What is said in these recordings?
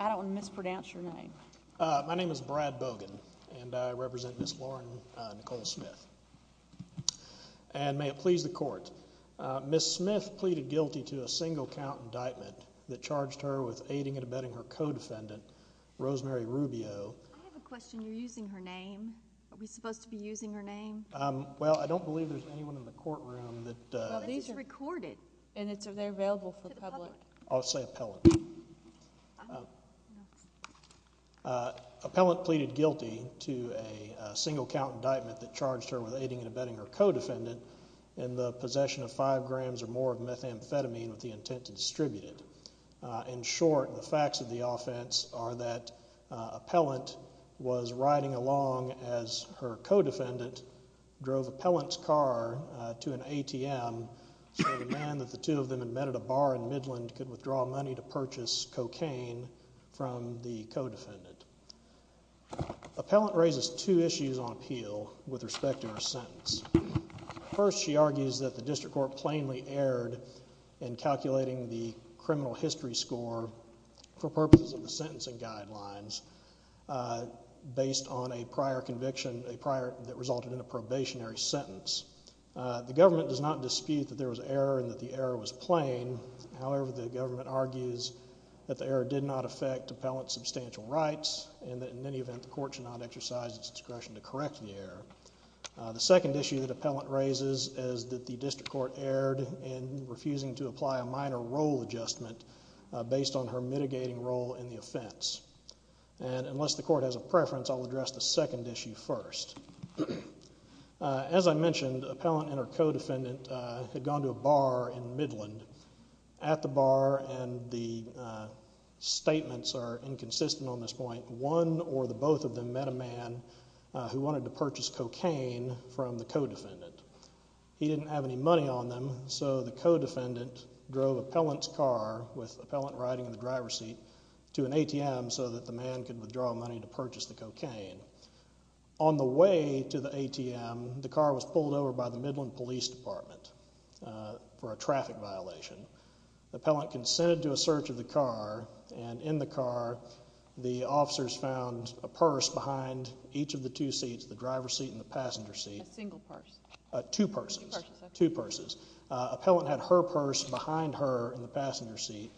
I don't want to mispronounce your name. My name is Brad Bogan and I represent Miss Lauren Nicole Smith and may it please the court. Miss Smith pleaded guilty to a single count indictment that charged her with aiding and abetting her co-defendant Rosemary Rubio. I have a question. You're using her name. Are we supposed to be in the courtroom that these are recorded and it's available for the public. I'll say appellant. Appellant pleaded guilty to a single count indictment that charged her with aiding and abetting her co-defendant in the possession of five grams or more of methamphetamine with the intent to distribute it. In short the facts of the offense are that appellant was riding along as her co-defendant drove appellant's car to an ATM so the man that the two of them had met at a bar in Midland could withdraw money to purchase cocaine from the co-defendant. Appellant raises two issues on appeal with respect to her sentence. First she argues that the district court plainly erred in calculating the criminal history score for purposes of the sentencing guidelines based on a prior conviction, a probationary sentence. The government does not dispute that there was error and that the error was plain. However the government argues that the error did not affect appellant's substantial rights and that in any event the court should not exercise its discretion to correct the error. The second issue that appellant raises is that the district court erred in refusing to apply a minor role adjustment based on her mitigating role in the offense. And as I mentioned appellant and her co-defendant had gone to a bar in Midland at the bar and the statements are inconsistent on this point. One or the both of them met a man who wanted to purchase cocaine from the co-defendant. He didn't have any money on them so the co-defendant drove appellant's car with appellant riding in the driver's seat to an ATM so that the man could withdraw money to purchase the cocaine. On the way to the ATM the car was pulled over by the Midland Police Department for a traffic violation. The appellant consented to a search of the car and in the car the officers found a purse behind each of the two seats, the driver's seat and the passenger seat. A single purse. Two purses, two purses. Appellant had her purse behind her in the passenger seat.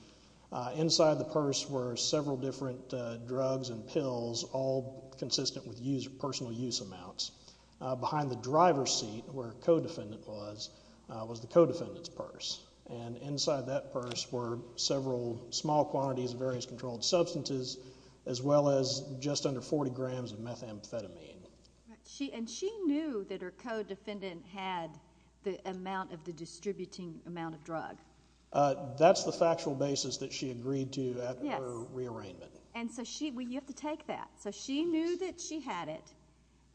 Inside the purse were several different drugs and pills all consistent with personal use amounts. Behind the driver's seat where co-defendant was, was the co-defendant's purse. And inside that purse were several small quantities of various controlled substances as well as just under 40 grams of methamphetamine. And she knew that her co-defendant had the amount of the distributing amount of drug. That's the factual basis that she agreed to after her rearrangement. And so she, well you have to take that. So she knew that she had it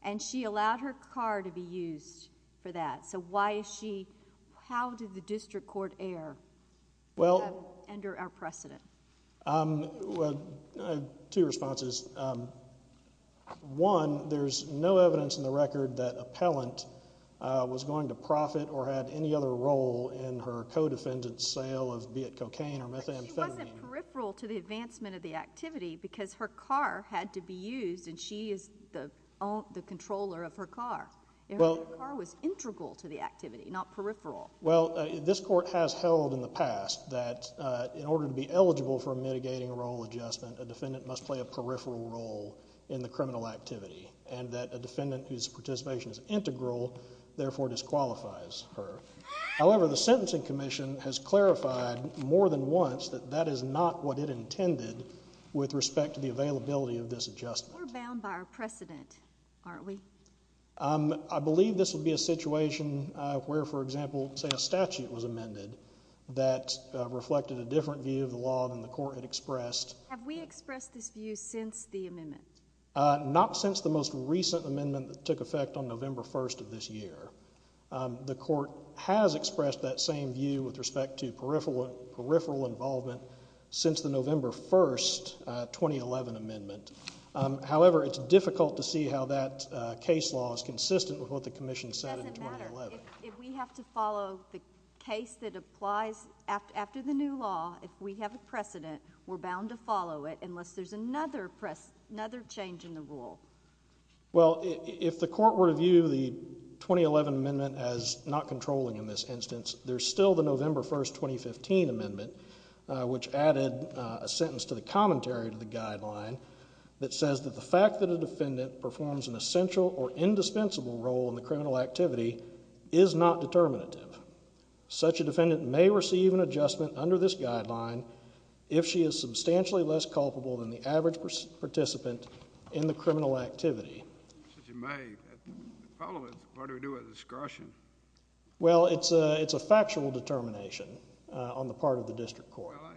and she allowed her car to be used for that. So why is she, how did the district court err under our precedent? Well, two responses. One, there's no evidence in the record that appellant was going to profit or had any other role in her co-defendant's sale of cocaine or methamphetamine. But she wasn't peripheral to the advancement of the activity because her car had to be used and she is the controller of her car. Her car was integral to the activity, not peripheral. Well, this court has held in the past that in order to be eligible for a mitigating role adjustment, a defendant must play a peripheral role in the criminal activity. And that a defendant whose participation is integral, therefore disqualifies her. However, the sentencing commission has clarified more than once that that is not what it intended with respect to the availability of this adjustment. We're bound by our precedent, aren't we? I believe this would be a situation where, for example, say a statute was amended that reflected a different view of the law than the court had expressed. Have we expressed this view since the amendment? Not since the most recent amendment that took effect on November 1st of this year. The court has expressed that same view with respect to peripheral involvement since the November 1st, 2011 amendment. However, it's difficult to see how that case law is consistent with what the commission said in 2011. It doesn't matter. If we have to follow the case that applies after the new law, if we have a precedent, we're bound to follow it unless there's another change in the rule. Well, if the court were to view the 2011 amendment as not controlling in this instance, there's still the November 1st, 2015 amendment. Which added a sentence to the commentary to the guideline that says that the fact that a defendant performs an essential or indispensable role in the criminal activity is not determinative. Such a defendant may receive an adjustment under this guideline if she is substantially less culpable than the average participant in the criminal activity. Well, it's a factual determination on the part of the district court. Well,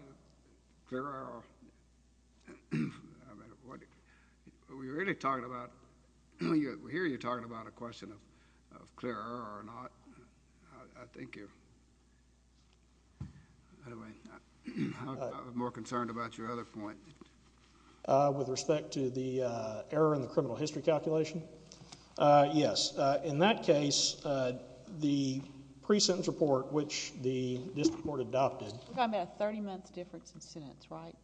I hear you talking about a question of clear error or not. I think you're more concerned about your other point. With respect to the error in the criminal history calculation? Yes. In that case, the pre-sentence report, which the district court adopted... We're talking about a 30-month difference in sentence, right?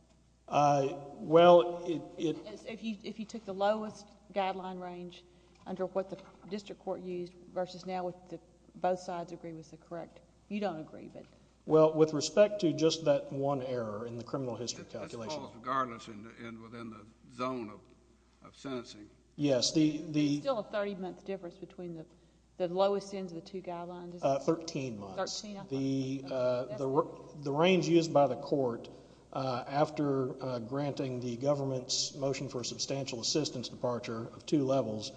Well, it... If you took the lowest guideline range under what the district court used versus now with both sides agreeing it's correct. You don't agree, but... Well, with respect to just that one error in the criminal history calculation... Yes, regardless and within the zone of sentencing. Yes, the... There's still a 30-month difference between the lowest ends of the two guidelines. Thirteen months. Thirteen, I thought. The range used by the court after granting the government's motion for a substantial assistance departure of two levels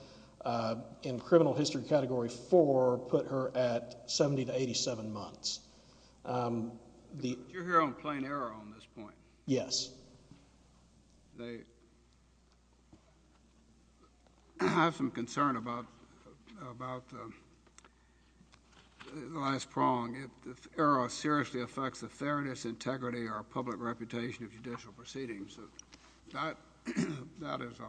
in criminal history category four put her at 70 to 87 months. You're here on plain error on this point. Yes. I have some concern about the last prong. If error seriously affects the fairness, integrity, or public reputation of judicial proceedings, that is...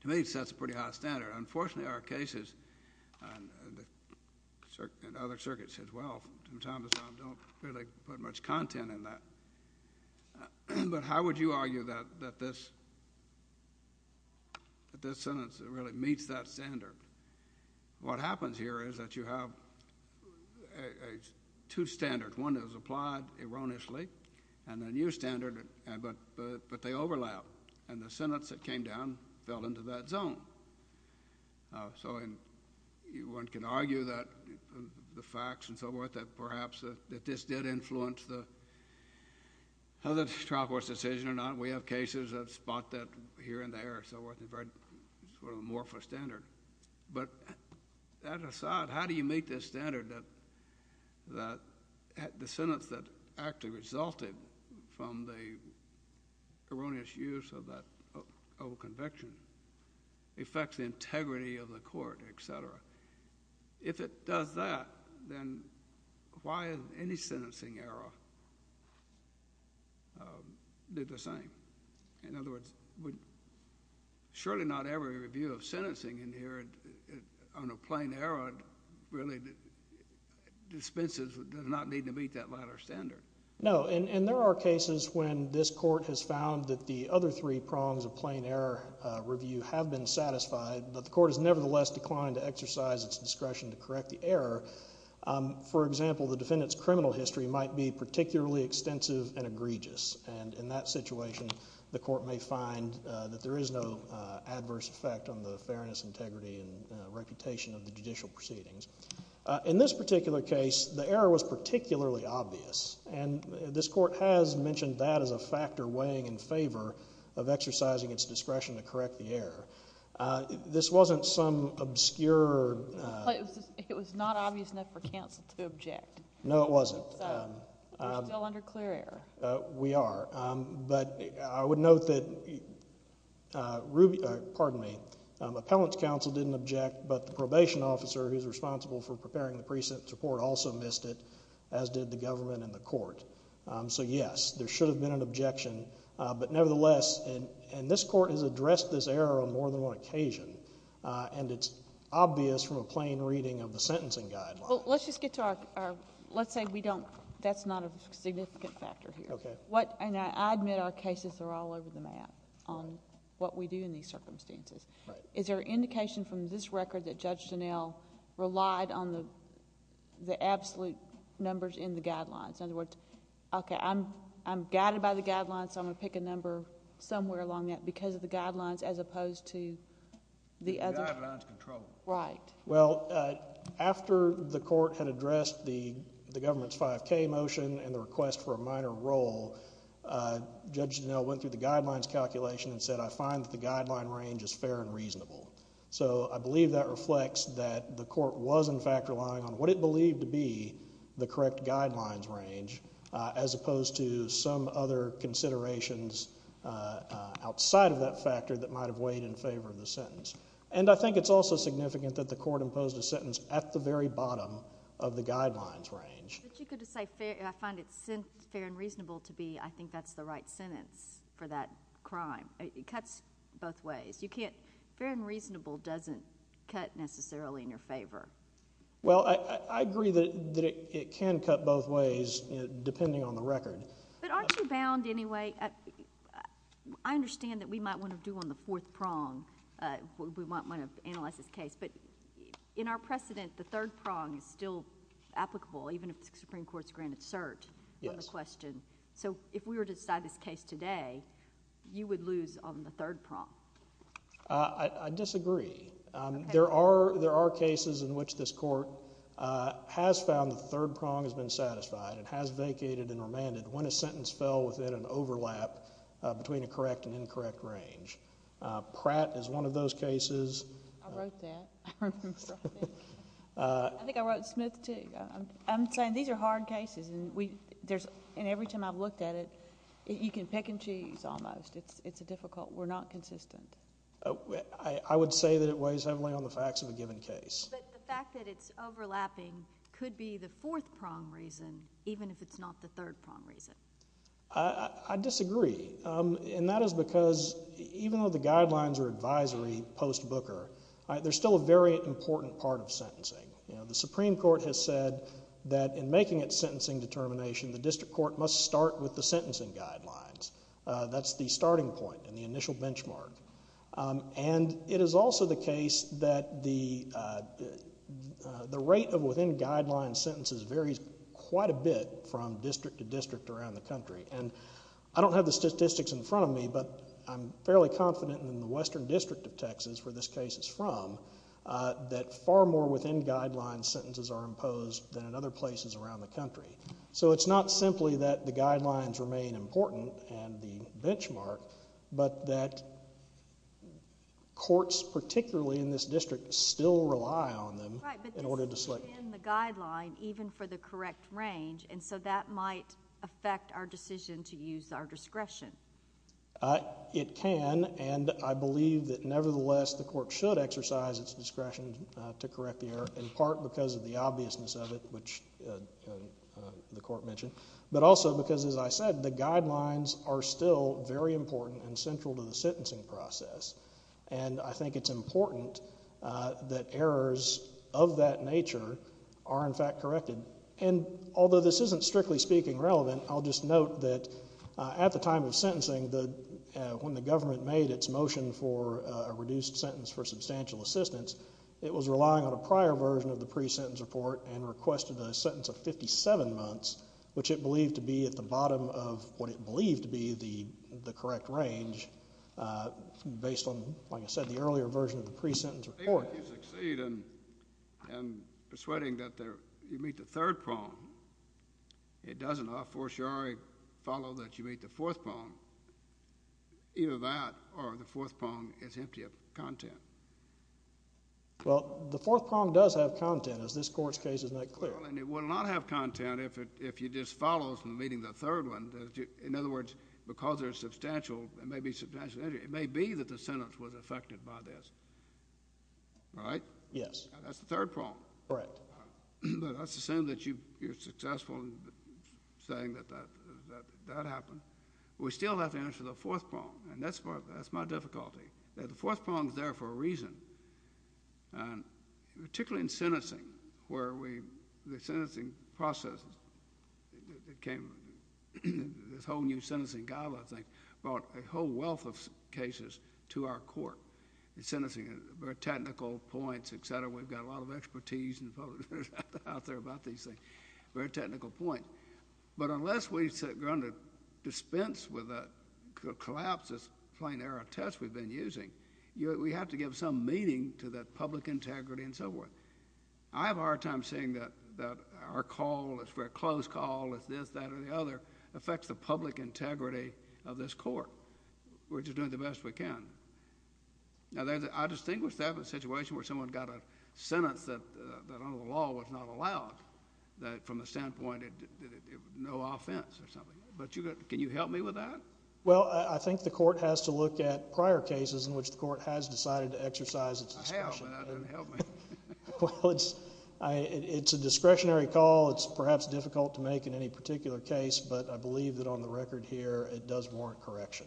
To me, that's a pretty high standard. Unfortunately, our cases and other circuits as well, from time to time, don't really put much content in that. But how would you argue that this sentence really meets that standard? What happens here is that you have two standards. One is applied erroneously and a new standard, but they overlap. And the sentence that came down fell into that zone. So one can argue that the facts and so forth, that perhaps that this did influence the other trial court's decision or not. We have cases that spot that here and there and so forth. It's a very sort of amorphous standard. But that aside, how do you make this standard that the sentence that actually resulted from the erroneous use of that old conviction affects the integrity of the court, et cetera? If it does that, then why has any sentencing error did the same? In other words, surely not every review of sentencing in here on a plain error really dispenses or does not need to meet that latter standard. No, and there are cases when this court has found that the other three prongs of plain error review have been satisfied, but the court has nevertheless declined to exercise its discretion to correct the error. For example, the defendant's criminal history might be particularly extensive and egregious. And in that situation, the court may find that there is no adverse effect on the fairness, integrity, and reputation of the judicial proceedings. In this particular case, the error was particularly obvious. And this court has mentioned that as a factor weighing in favor of exercising its discretion to correct the error. This wasn't some obscure. It was not obvious enough for counsel to object. No, it wasn't. So we're still under clear error. We are. But I would note that ruby, pardon me, appellant's counsel didn't object, but the probation officer who's responsible for preparing the pre-sentence report also missed it, as did the government and the court. So, yes, there should have been an objection. But nevertheless, and this court has addressed this error on more than one occasion, and it's obvious from a plain reading of the sentencing guideline. Well, let's just get to our... let's say we don't... that's not a significant factor here. Okay. And I admit our cases are all over the map on what we do in these circumstances. Right. Is there an indication from this record that Judge Dunnell relied on the absolute numbers in the guidelines? In other words, okay, I'm guided by the guidelines, so I'm going to pick a number somewhere along that because of the guidelines as opposed to the other... The guidelines control. Right. Well, after the court had addressed the government's 5K motion and the request for a minor role, Judge Dunnell went through the guidelines calculation and said, I find that the guideline range is fair and reasonable. So, I believe that reflects that the court was, in fact, relying on what it believed to be the correct guidelines range, as opposed to some other considerations outside of that factor that might have weighed in favor of the sentence. And I think it's also significant that the court imposed a sentence at the very bottom of the guidelines range. But you could have said, I find it fair and reasonable to be, I think that's the right sentence for that crime. It cuts both ways. You can't... fair and reasonable doesn't cut necessarily in your favor. Well, I agree that it can cut both ways, depending on the record. But aren't you bound anyway? I understand that we might want to do on the fourth prong. We might want to analyze this case. But in our precedent, the third prong is still applicable, even if the Supreme Court's granted cert on the question. Yes. So, if we were to decide this case today, you would lose on the third prong. I disagree. There are cases in which this court has found the third prong has been satisfied and has vacated and remanded when a sentence fell within an overlap between a correct and incorrect range. Pratt is one of those cases. I wrote that. I think I wrote Smith, too. I'm saying these are hard cases. And every time I've looked at it, you can pick and choose almost. It's difficult. We're not consistent. I would say that it weighs heavily on the facts of a given case. But the fact that it's overlapping could be the fourth prong reason, even if it's not the third prong reason. I disagree. And that is because even though the guidelines are advisory post-Booker, there's still a very important part of sentencing. The Supreme Court has said that in making its sentencing determination, the district court must start with the sentencing guidelines. That's the starting point and the initial benchmark. And it is also the case that the rate of within-guidelines sentences varies quite a bit from district to district around the country. And I don't have the statistics in front of me, but I'm fairly confident in the Western District of Texas, where this case is from, that far more within-guidelines sentences are imposed than in other places around the country. So it's not simply that the guidelines remain important and the benchmark, but that courts, particularly in this district, still rely on them in order to select... Right. But this is within the guideline, even for the correct range. And so that might affect our decision to use our discretion. It can. And I believe that nevertheless, the court should exercise its discretion to correct the error, in part because of the obviousness of it, which the court mentioned, but also because, as I said, the guidelines are still very important and central to the sentencing process. And I think it's important that errors of that nature are in fact corrected. And although this isn't, strictly speaking, relevant, I'll just note that at the time of sentencing, when the government made its motion for a reduced sentence for substantial assistance, it was relying on a prior version of the pre-sentence report and requested a sentence of 57 months, which it believed to be at the bottom of what it believed to be the correct range, based on, like I said, the earlier version of the pre-sentence report. Even if you succeed in persuading that you meet the third prong, it doesn't, of course, follow that you meet the fourth prong. Either that or the fourth prong is empty of content. Well, the fourth prong does have content, as this Court's case has made clear. Well, and it will not have content if it just follows from meeting the third one. In other words, because there's substantial, it may be substantial, it may be that the sentence was affected by this. Right? Yes. That's the third prong. Right. Well, that's the same that you're successful in saying that that happened. We still have to answer the fourth prong, and that's my difficulty. The fourth prong is there for a reason. Particularly in sentencing, where the sentencing process became this whole new sentencing goblet thing, brought a whole wealth of cases to our Court. Sentencing, very technical points, et cetera. We've got a lot of expertise out there about these things, very technical points. But unless we're going to dispense with that, collapse this plain error test we've been using, we have to give some meaning to that public integrity and so forth. I have a hard time saying that our call, this very close call, this, that, or the other, affects the public integrity of this Court. We're just doing the best we can. Now, I distinguish that from a situation where someone got a sentence that under the law was not allowed, that from a standpoint, no offense or something. But can you help me with that? Well, I think the Court has to look at prior cases in which the Court has decided to exercise its discretion. I have, but that doesn't help me. Well, it's a discretionary call. It's perhaps difficult to make in any particular case, but I believe that on the record here it does warrant correction.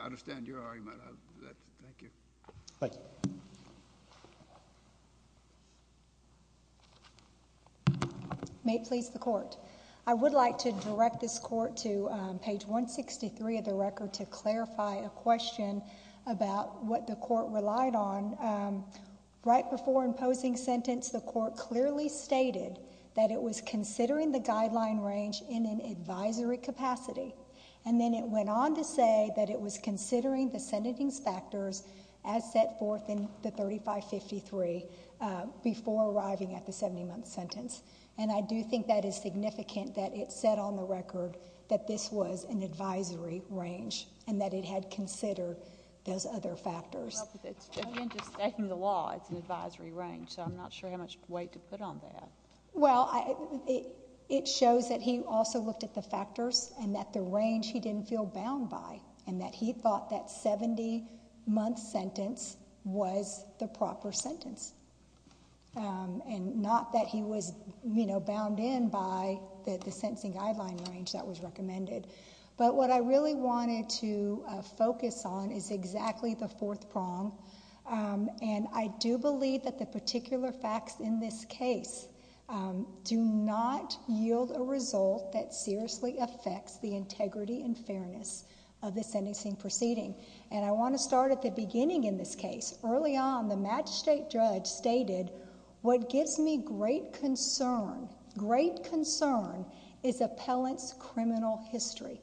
I understand your argument. Thank you. Thank you. May it please the Court. I would like to direct this Court to page 163 of the record to clarify a question about what the Court relied on. Right before imposing sentence, the Court clearly stated that it was considering the guideline range in an advisory capacity. And then it went on to say that it was considering the sentencing factors as set forth in the 3553 before arriving at the 70-month sentence. And I do think that is significant that it said on the record that this was an advisory range and that it had considered those other factors. I'm not sure how much weight to put on that. Well, it shows that he also looked at the factors and that the range he didn't feel bound by and that he thought that 70-month sentence was the proper sentence and not that he was bound in by the sentencing guideline range that was recommended. But what I really wanted to focus on is exactly the fourth prong. And I do believe that the particular facts in this case do not yield a result that seriously affects the integrity and fairness of the sentencing proceeding. And I want to start at the beginning in this case. Early on, the magistrate judge stated, What gives me great concern, great concern, is appellant's criminal history.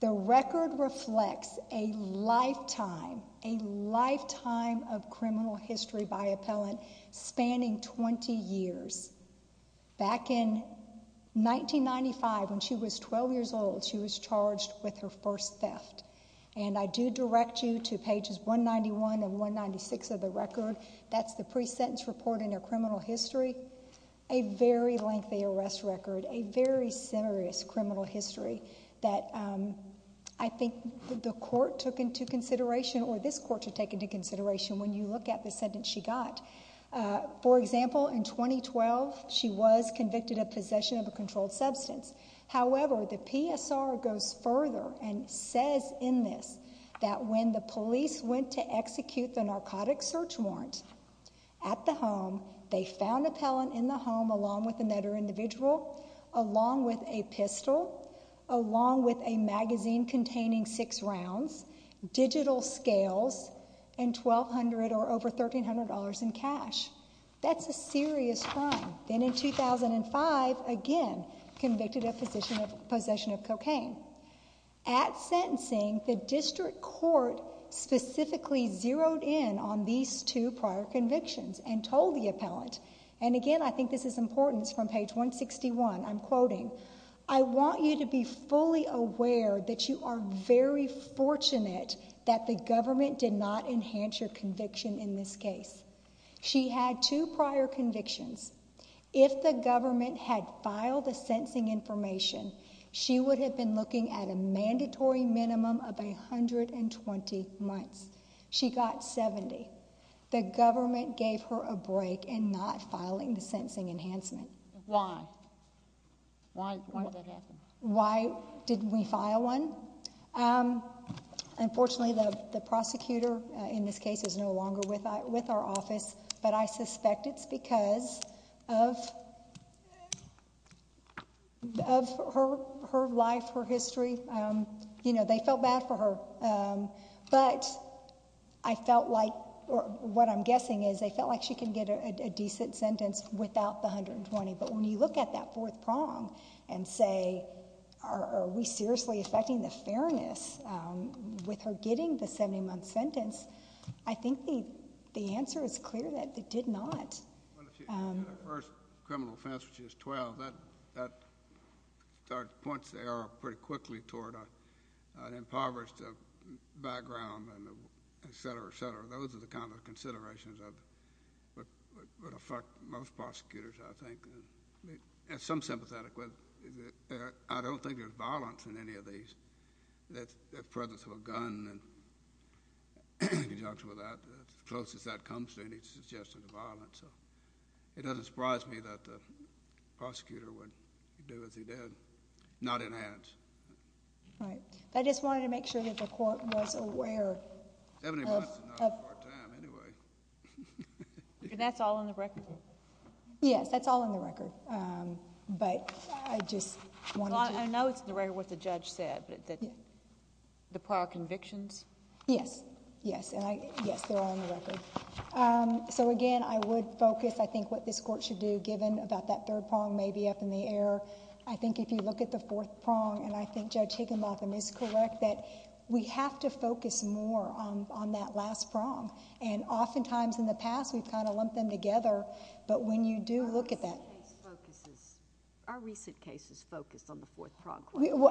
The record reflects a lifetime, a lifetime of criminal history by appellant spanning 20 years. Back in 1995, when she was 12 years old, she was charged with her first theft. And I do direct you to pages 191 and 196 of the record. That's the pre-sentence report and her criminal history, a very lengthy arrest record, a very serious criminal history that I think the court took into consideration or this court should take into consideration when you look at the sentence she got. For example, in 2012, she was convicted of possession of a controlled substance. However, the PSR goes further and says in this that when the police went to execute the narcotic search warrant at the home, they found appellant in the home along with another individual, along with a pistol, along with a magazine containing six rounds, digital scales, and $1,200 or over $1,300 in cash. That's a serious crime. Then in 2005, again, convicted of possession of cocaine. At sentencing, the district court specifically zeroed in on these two prior convictions and told the appellant, and again, I think this is important, it's from page 161, I'm quoting, I want you to be fully aware that you are very fortunate that the government did not enhance your conviction in this case. She had two prior convictions. If the government had filed the sentencing information, she would have been looking at a mandatory minimum of 120 months. She got 70. The government gave her a break in not filing the sentencing enhancement. Why? Why did that happen? Why didn't we file one? Unfortunately, the prosecutor in this case is no longer with our office, but I suspect it's because of her life, her history. They felt bad for her, but I felt like, or what I'm guessing is, they felt like she could get a decent sentence without the 120, but when you look at that fourth prong and say, are we seriously affecting the fairness with her getting the 70-month sentence, I think the answer is clear that it did not. Well, if she had her first criminal offense when she was 12, that points the arrow pretty quickly toward an impoverished background, et cetera, et cetera. Those are the kinds of considerations that would affect most prosecutors, I think. As some sympathetic, I don't think there's violence in any of these. The presence of a gun, he talks about that. As close as that comes to any suggestion of violence. It doesn't surprise me that the prosecutor would do as he did, not enhance. Right. I just wanted to make sure that the court was aware of... Seventy months is not a hard time, anyway. That's all in the record? Yes, that's all in the record, but I just wanted to... I know it's in the record what the judge said, but the prior convictions? Yes, yes. Yes, they're all in the record. Again, I would focus, I think, what this court should do, given about that third prong may be up in the air. I think if you look at the fourth prong, and I think Judge Higginbotham is correct, that we have to focus more on that last prong. Oftentimes, in the past, we've kind of lumped them together, but when you do look at that... Our recent cases focus on the fourth prong.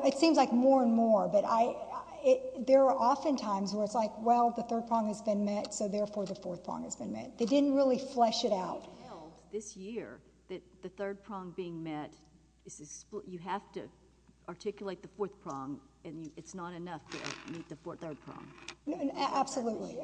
It seems like more and more, but there are often times where it's like, well, the third prong has been met, so therefore the fourth prong has been met. They didn't really flesh it out. The court held this year that the third prong being met, you have to articulate the fourth prong, and it's not enough to meet the third prong. Absolutely.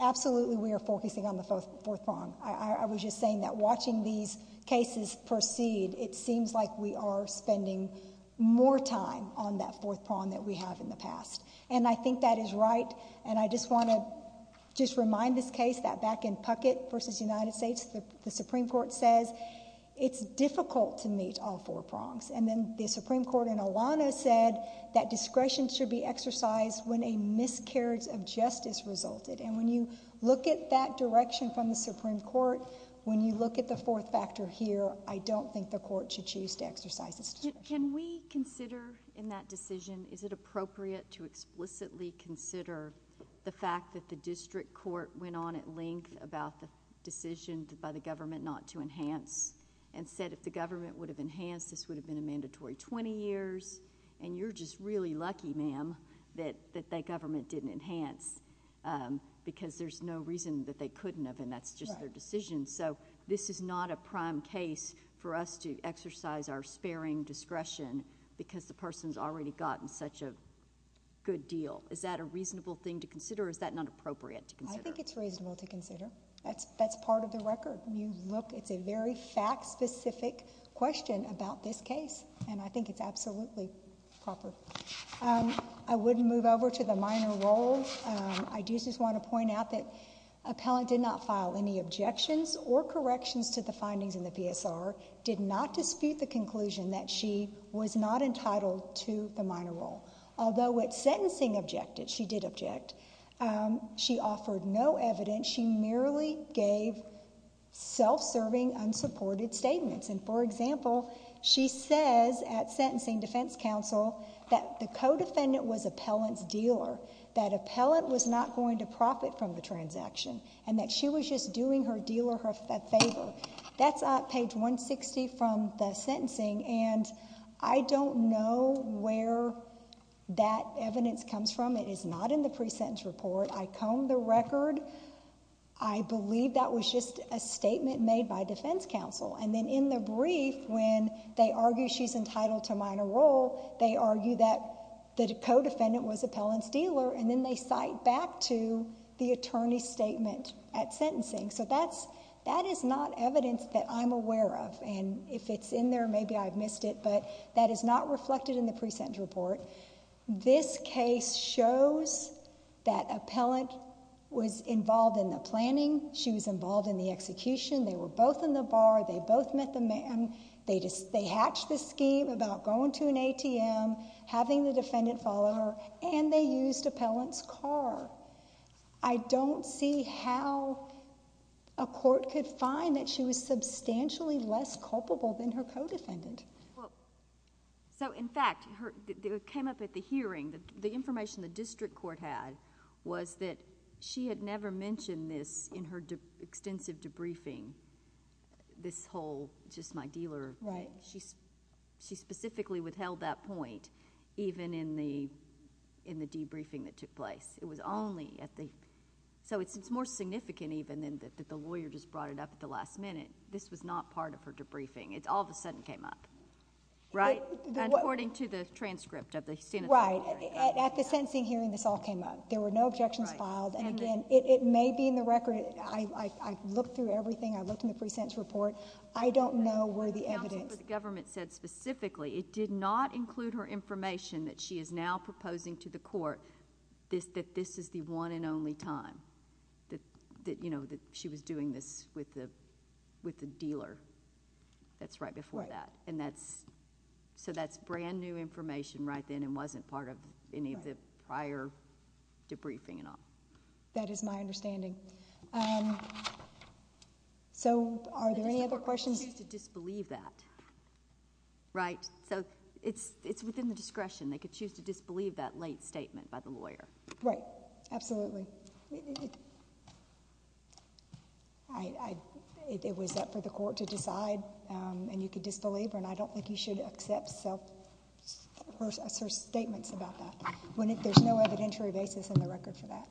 Absolutely, we are focusing on the fourth prong. I was just saying that watching these cases proceed, it seems like we are spending more time on that fourth prong than we have in the past, and I think that is right, and I just want to just remind this case, that back in Puckett v. United States, the Supreme Court says it's difficult to meet all four prongs, and then the Supreme Court in Elano said that discretion should be exercised when a miscarriage of justice resulted, and when you look at that direction from the Supreme Court, when you look at the fourth factor here, I don't think the court should choose to exercise its discretion. Can we consider in that decision, is it appropriate to explicitly consider the fact that the district court went on at length about the decision by the government not to enhance, and said if the government would have enhanced, this would have been a mandatory 20 years, and you're just really lucky, ma'am, that that government didn't enhance, because there's no reason that they couldn't have, and that's just their decision, so this is not a prime case for us to exercise our sparing discretion, because the person's already gotten such a good deal. Is that a reasonable thing to consider, or is that not appropriate to consider? I think it's reasonable to consider. That's part of the record. It's a very fact-specific question about this case, and I think it's absolutely proper. I would move over to the minor role. I do just want to point out that appellant did not file any objections or corrections to the findings in the PSR, did not dispute the conclusion that she was not entitled to the minor role, although at sentencing she did object. She offered no evidence. She merely gave self-serving, unsupported statements, and, for example, she says at sentencing defense counsel that the co-defendant was appellant's dealer, that appellant was not going to profit from the transaction, and that she was just doing her dealer a favor. That's page 160 from the sentencing, and I don't know where that evidence comes from. It is not in the pre-sentence report. I combed the record. I believe that was just a statement made by defense counsel, and then in the brief when they argue she's entitled to minor role, they argue that the co-defendant was appellant's dealer, and then they cite back to the attorney's statement at sentencing. So that is not evidence that I'm aware of, and if it's in there, maybe I've missed it, but that is not reflected in the pre-sentence report. This case shows that appellant was involved in the planning. She was involved in the execution. They were both in the bar. They both met the man. They hatched this scheme about going to an ATM, having the defendant follow her, and they used appellant's car. I don't see how a court could find that she was substantially less culpable than her co-defendant. Well, so in fact, it came up at the hearing. The information the district court had was that she had never mentioned this in her extensive debriefing, this whole just my dealer. Right. She specifically withheld that point even in the debriefing that took place. So it's more significant even than the lawyer just brought it up at the last minute. This was not part of her debriefing. It all of a sudden came up, right, according to the transcript of the sentencing hearing. Right. At the sentencing hearing, this all came up. There were no objections filed, and again, it may be in the record. I looked through everything. I looked in the pre-sentence report. I don't know where the evidence... The counsel for the government said specifically it did not include her information that she is now proposing to the court that this is the one and only time that she was doing this with the dealer. That's right before that. Right. So that's brand-new information right then and wasn't part of any of the prior debriefing and all. That is my understanding. So are there any other questions? It seems to disbelieve that, right? So it's within the discretion. They could choose to disbelieve that late statement by the lawyer. Right. Absolutely. It was up for the court to decide, and you could disbelieve her, and I don't think you should accept her statements about that. There's no evidentiary basis in the record for that.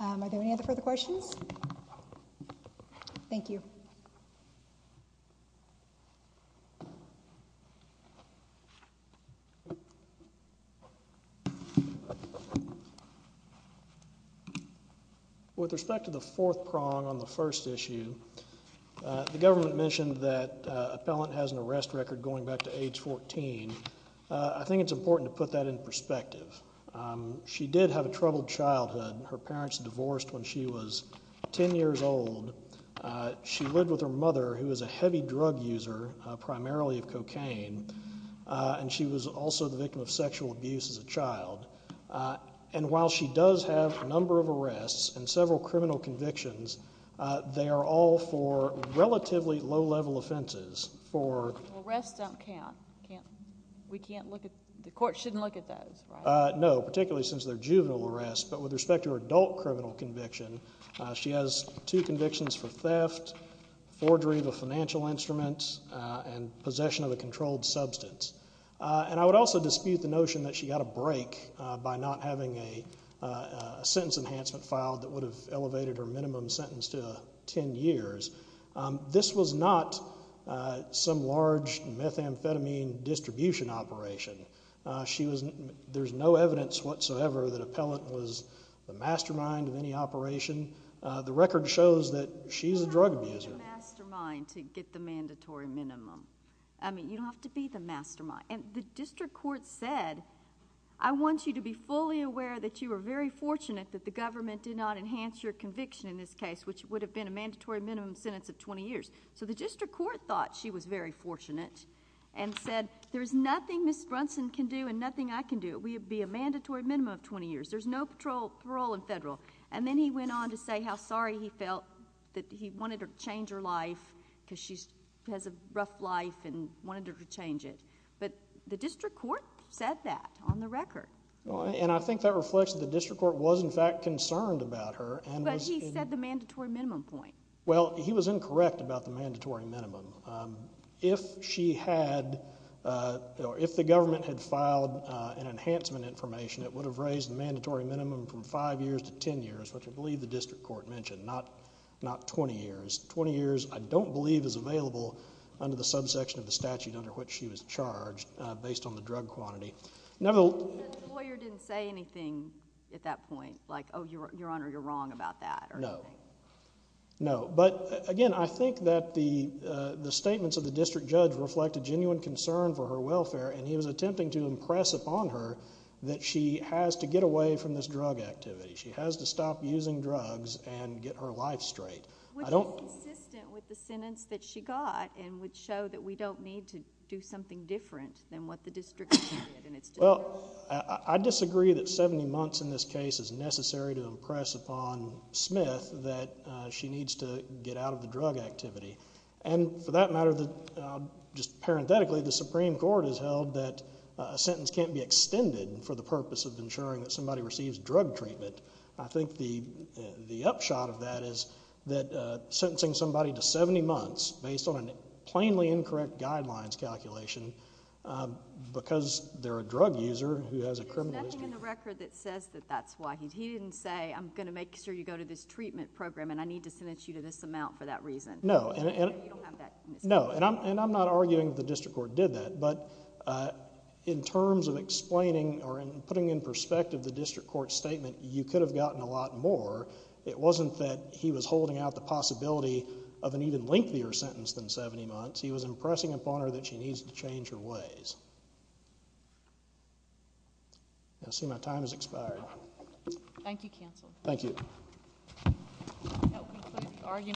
Are there any other further questions? Thank you. With respect to the fourth prong on the first issue, the government mentioned that Appellant has an arrest record going back to age 14. I think it's important to put that in perspective. She did have a troubled childhood. Her parents divorced when she was 10 years old. She lived with her mother, who was a heavy drug user, primarily of cocaine, and she was also the victim of sexual abuse as a child. And while she does have a number of arrests and several criminal convictions, they are all for relatively low-level offenses. Arrests don't count. The court shouldn't look at those, right? No, particularly since they're juvenile arrests. But with respect to her adult criminal conviction, she has two convictions for theft, forgery of a financial instrument, and possession of a controlled substance. And I would also dispute the notion that she got a break by not having a sentence enhancement filed that would have elevated her minimum sentence to 10 years. This was not some large methamphetamine distribution operation. There's no evidence whatsoever that Appellant was the mastermind of any operation. The record shows that she's a drug abuser. You don't have to be the mastermind to get the mandatory minimum. I mean, you don't have to be the mastermind. And the district court said, I want you to be fully aware that you are very fortunate that the government did not enhance your conviction in this case, which would have been a mandatory minimum sentence of 20 years. So the district court thought she was very fortunate and said there's nothing Ms. Brunson can do and nothing I can do. It would be a mandatory minimum of 20 years. There's no parole in federal. And then he went on to say how sorry he felt that he wanted to change her life because she has a rough life and wanted to change it. But the district court said that on the record. And I think that reflects that the district court was, in fact, concerned about her. But he said the mandatory minimum point. Well, he was incorrect about the mandatory minimum. If she had, or if the government had filed an enhancement information, it would have raised the mandatory minimum from 5 years to 10 years, which I believe the district court mentioned, not 20 years. 20 years, I don't believe, is available under the subsection of the statute under which she was charged based on the drug quantity. The lawyer didn't say anything at that point? Like, oh, Your Honor, you're wrong about that? No. No. But, again, I think that the statements of the district judge reflected genuine concern for her welfare, and he was attempting to impress upon her that she has to get away from this drug activity. She has to stop using drugs and get her life straight. Which is consistent with the sentence that she got and would show that we don't need to do something different than what the district did. Well, I disagree that 70 months in this case is necessary to impress upon Smith that she needs to get out of the drug activity. And for that matter, just parenthetically, the Supreme Court has held that a sentence can't be extended for the purpose of ensuring that somebody receives drug treatment. I think the upshot of that is that sentencing somebody to 70 months based on a plainly incorrect guidelines calculation, because they're a drug user who has a criminal history. There's nothing in the record that says that that's why. He didn't say, I'm going to make sure you go to this treatment program and I need to sentence you to this amount for that reason. No. You don't have that in this case. No. And I'm not arguing that the district court did that, but in terms of explaining or putting in perspective the district court's statement, you could have gotten a lot more. It wasn't that he was holding out the possibility of an even lengthier sentence than 70 months. He was impressing upon her that she needs to change her ways. I see my time has expired. Thank you, counsel. Thank you.